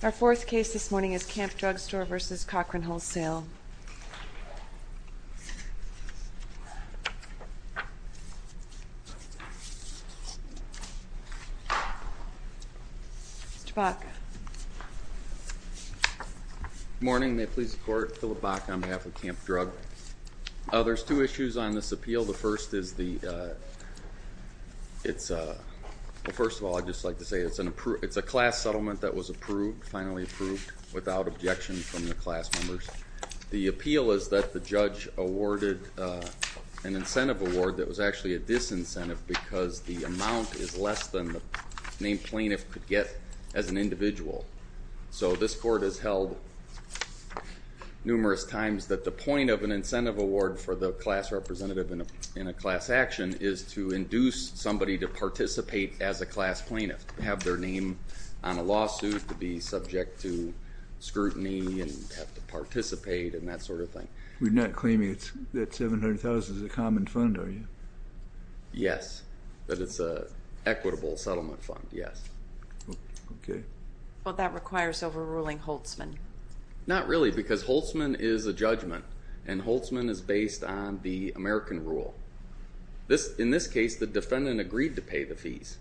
Our fourth case this morning is Camp Drug Store v. Cochran Wholesale. Good morning. May it please the court, Philip Bach on behalf of Camp Drug. There's two issues on this appeal. The first is the, it's a, well first of all I'd just like to say it's an approved, it's a class settlement that was approved, finally approved without objection from the class members. The appeal is that the judge awarded an incentive award that was actually a disincentive because the amount is less than the named plaintiff could get as an individual. So this court has held numerous times that the point of an incentive award for the class representative in a class action is to induce somebody to participate as a student. So it's not to say that the defendant is not entitled to scrutiny and have to participate and that sort of thing. We're not claiming it's, that $700,000 is a common fund are you? Yes, that it's a equitable settlement fund, yes. Okay. Well that requires overruling Holtzman. Not really because Holtzman is a judgment and Holtzman is based on the American rule. This, in this case the defendant agreed to pay the fees.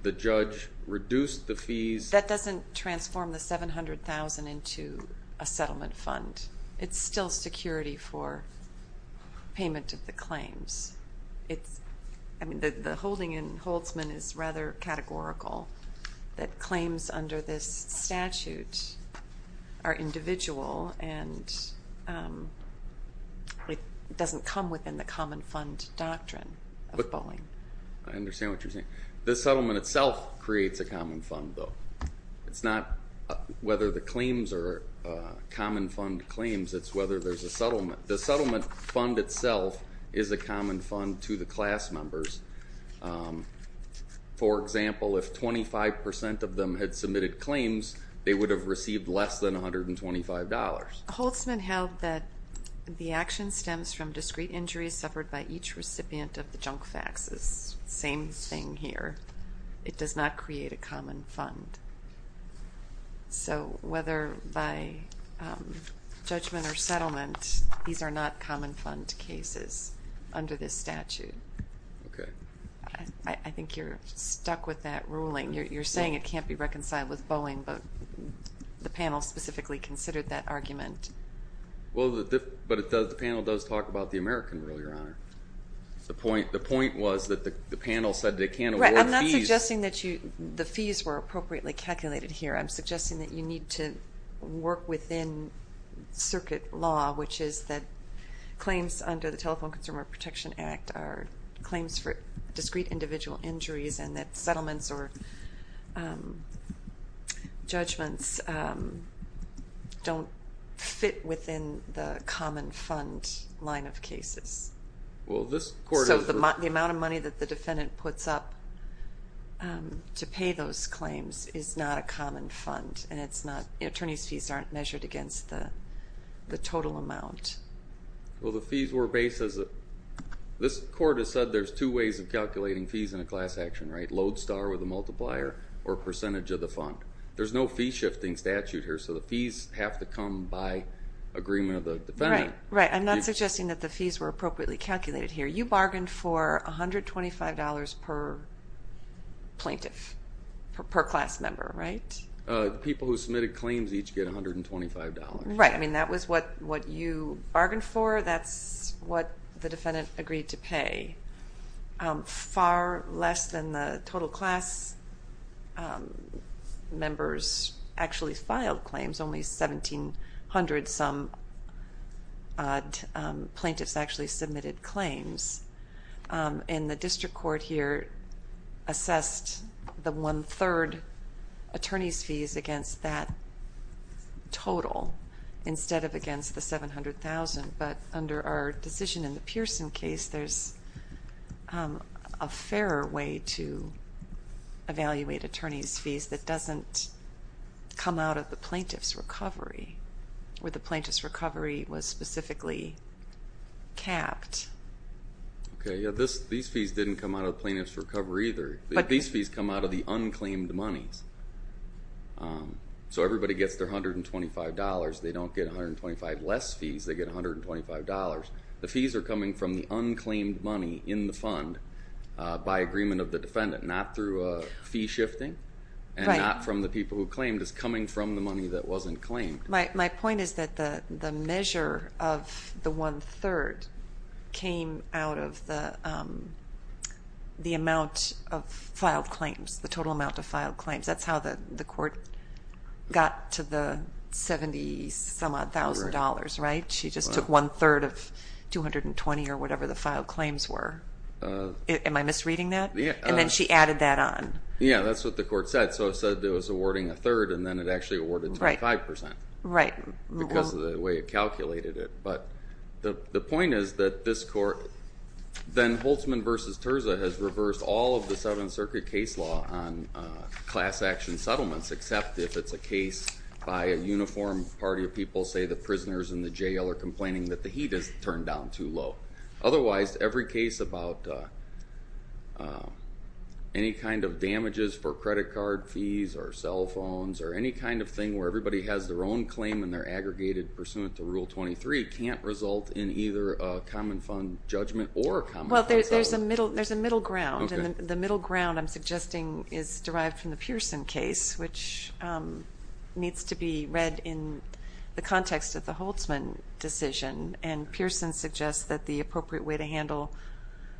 The judge reduced the fees. That doesn't transform the $700,000 into a settlement fund. It's still security for payment of the claims. It's, I mean the holding in Holtzman is rather categorical. That claims under this statute are individual and it doesn't come within the common fund doctrine of bullying. I understand what Holtzman itself creates a common fund though. It's not whether the claims are common fund claims, it's whether there's a settlement. The settlement fund itself is a common fund to the class members. For example, if 25% of them had submitted claims they would have received less than $125. Holtzman held that the action stems from discrete injuries suffered by each recipient of the junk faxes. Same thing here. It does not create a common fund. So whether by judgment or settlement these are not common fund cases under this statute. Okay. I think you're stuck with that ruling. You're saying it can't be reconciled with bullying but the panel specifically considered that argument. Well, but the panel does talk about the American rule, Your Honor. The point was that the panel said they can't award fees. I'm not suggesting that the fees were appropriately calculated here. I'm suggesting that you need to work within circuit law, which is that claims under the Telephone Consumer Protection Act are claims for discrete individual injuries and that settlements or judgments don't fit within the common fund line of cases. Well, this court... So the amount of money that the defendant puts up to pay those claims is not a common fund and attorneys' fees aren't measured against the total amount. Well, the fees were based as a... This court has said there's two ways of calculating fees in a class action, right? Load star with a multiplier or percentage of the fund. There's no fee I'm not suggesting that the fees were appropriately calculated here. You bargained for $125 per plaintiff, per class member, right? The people who submitted claims each get $125. Right. I mean that was what what you bargained for. That's what the defendant agreed to pay. Far less than the total class members actually filed claims. Only 1,700-some plaintiffs actually submitted claims. And the district court here assessed the one-third attorneys' fees against that total instead of against the $700,000. But under our decision in the Pearson case, there's a fairer way to evaluate attorneys' fees that doesn't come out of the plaintiff's recovery, where the plaintiff's recovery was specifically capped. Okay, yeah, these fees didn't come out of plaintiff's recovery either. These fees come out of the unclaimed monies. So everybody gets their $125. They don't get 125 less fees. They get $125. The fees are coming from the unclaimed money in the fund by agreement of the defendant, not through a fee shifting, and not from the people who claimed. It's coming from the money that wasn't claimed. My point is that the measure of the one-third came out of the the amount of filed claims, the total amount of filed claims. That's how the the court got to the 70-some-odd thousand dollars, right? She just took one-third of 220 or whatever the filed claims were. Am I misreading that? Yeah. And then she added that on. Yeah, that's what the court said. So it said it was awarding a third, and then it actually awarded 25%. Right. Because of the way it calculated it. But the point is that this court, then Holtzman v. Terza has reversed all of the Seventh Circuit case law on class action settlements, except if it's a case by a uniform party of people, say the prisoners in the jail are that the heat is turned down too low. Otherwise, every case about any kind of damages for credit card fees or cell phones or any kind of thing where everybody has their own claim and they're aggregated pursuant to Rule 23 can't result in either a common fund judgment or a common fund settlement. Well, there's a middle ground, and the middle ground, I'm suggesting, is derived from the Pearson case, which needs to be read in the context of the Holtzman decision. And Pearson suggests that the appropriate way to handle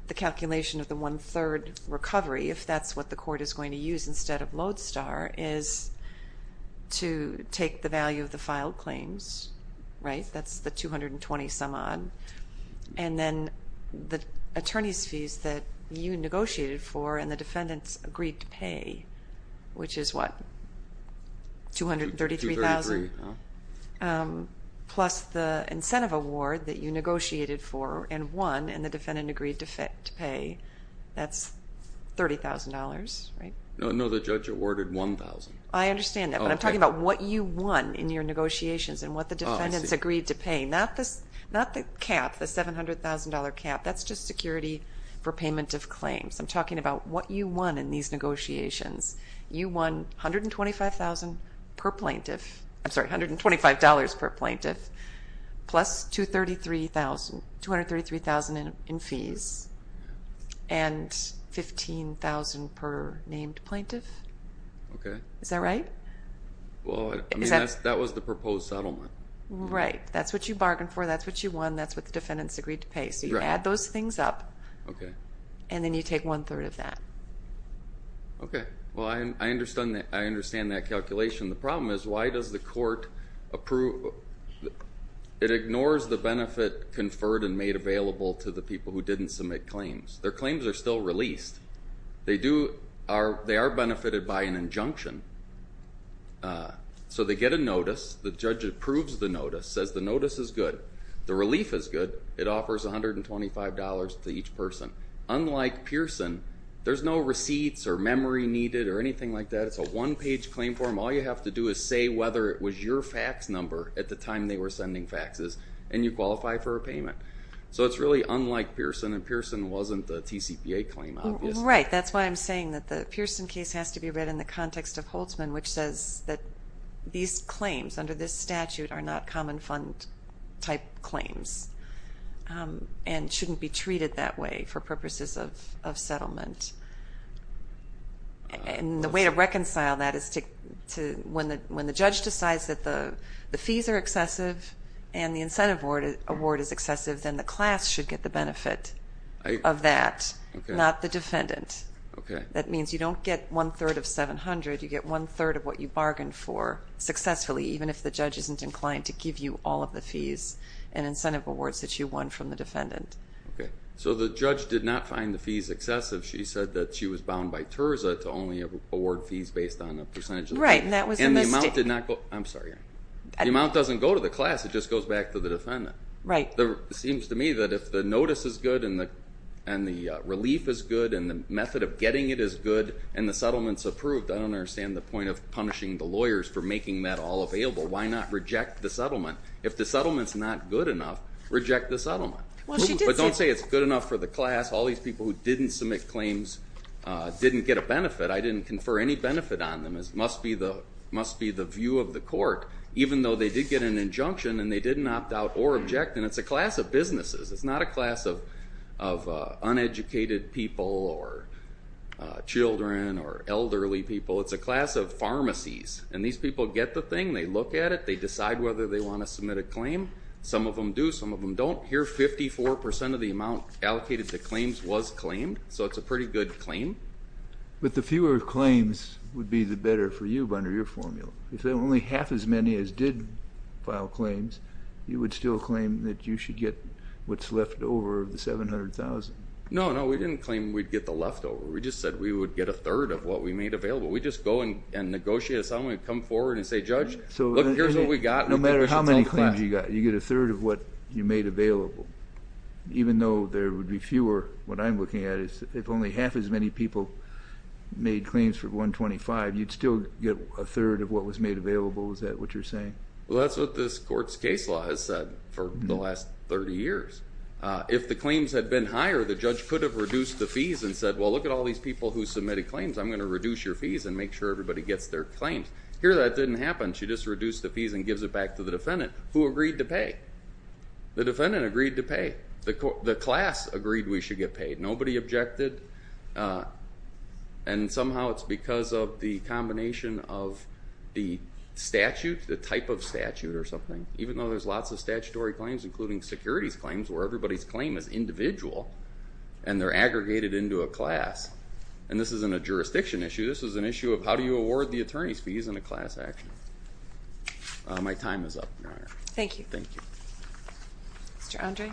the calculation of the one-third recovery, if that's what the court is going to use instead of lodestar, is to take the value of the filed claims, right? That's the 220 some-odd. And then the attorney's fees that you negotiated for and the defendants agreed to pay, which is what, $233,000? Plus the incentive award that you negotiated for and won and the defendant agreed to pay, that's $30,000, right? No, the judge awarded $1,000. I understand that, but I'm talking about what you won in your negotiations and what the defendants agreed to pay, not the cap, the $700,000 cap. That's just security for payment of claims. I'm talking about what you won in these negotiations. You won $125,000 per plaintiff, I'm sorry, $125 per plaintiff, plus $233,000 in fees and $15,000 per named plaintiff. Okay. Is that right? Well, I mean, that was the proposed settlement. Right, that's what you bargained for, that's what you won, that's what the defendants agreed to pay. So you add those things up. Okay. And then you take one-third of that. Okay, well I understand that calculation. The problem is, why does the court approve? It ignores the benefit conferred and made available to the people who didn't submit claims. Their claims are still released. They are benefited by an injunction. So they get a notice, the judge approves the person. Unlike Pearson, there's no receipts or memory needed or anything like that. It's a one-page claim form. All you have to do is say whether it was your fax number at the time they were sending faxes, and you qualify for a payment. So it's really unlike Pearson, and Pearson wasn't the TCPA claim, obviously. Right, that's why I'm saying that the Pearson case has to be read in the context of Holtzman, which says that these claims under this statute are not common fund type claims and shouldn't be treated that way for purposes of settlement. And the way to reconcile that is when the judge decides that the fees are excessive and the incentive award is excessive, then the class should get the benefit of that, not the defendant. Okay. That means you don't get one-third of $700, you get one-third of what you bargained for successfully, even if the judge isn't inclined to give you all of the fees and incentive awards that you won from the defendant. Okay, so the judge did not find the fees excessive. She said that she was bound by TIRSA to only award fees based on a percentage of the fee. Right, and that was a mistake. And the amount did not go, I'm sorry, the amount doesn't go to the class, it just goes back to the defendant. Right. It seems to me that if the notice is good, and the relief is good, and the method of getting it is good, and the settlement's approved, I don't understand the point of making that all available. Why not reject the settlement? If the settlement's not good enough, reject the settlement. But don't say it's good enough for the class, all these people who didn't submit claims didn't get a benefit, I didn't confer any benefit on them. It must be the view of the court, even though they did get an injunction and they didn't opt out or object. And it's a class of businesses, it's not a class of uneducated people, or children, or elderly people, it's a class of pharmacies. And these people get the thing, they look at it, they decide whether they want to submit a claim. Some of them do, some of them don't. Here, 54% of the amount allocated to claims was claimed, so it's a pretty good claim. But the fewer claims would be the better for you under your formula. If they're only half as many as did file claims, you would still claim that you should get what's left over of the 700,000. No, no, we didn't claim we'd get the leftover, we just said we would get a third of what we made available. We just go and negotiate with someone and come forward and say, Judge, look, here's what we got. No matter how many claims you got, you get a third of what you made available. Even though there would be fewer, what I'm looking at is, if only half as many people made claims for 125, you'd still get a third of what was made available, is that what you're saying? Well, that's what this court's case law has said for the last 30 years. If the claims had been higher, the judge could have reduced the fees and said, well, look at all these people who submitted claims, I'm gonna reduce your fees and make sure everybody gets their claims. Here, that didn't happen. She just reduced the fees and gives it back to the defendant, who agreed to pay. The defendant agreed to pay. The class agreed we should get paid. Nobody objected, and somehow it's because of the combination of the statute, the type of statute or something, even though there's lots of statutory claims, including securities claims, where everybody's individual and they're aggregated into a class. And this isn't a jurisdiction issue, this is an issue of how do you award the attorney's fees in a class action. My time is up, Your Honor. Thank you. Thank you. Mr. Andre?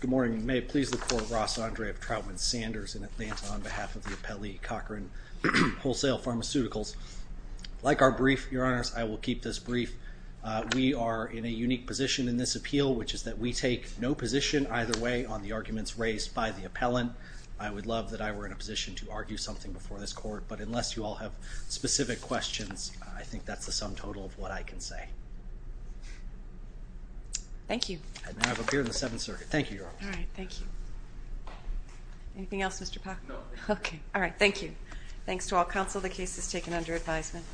Good morning. May it please the Court, Ross Andre of Troutman Sanders in Atlanta, on behalf of the Appellee Cochran Wholesale Pharmaceuticals. Like our brief, Your Honor, I will keep this brief. We are in a unique position in this appeal, which is that we take no position either way on the arguments raised by the appellant. I would love that I were in a position to argue something before this Court, but unless you all have specific questions, I think that's the sum total of what I can say. Thank you. I now appear in the Seventh Circuit. Thank you, Your Honor. All right. Thank you. Anything else, Mr. Pack? No. Okay. All right. Thank you. Thanks to all counsel. The case is taken under advisement.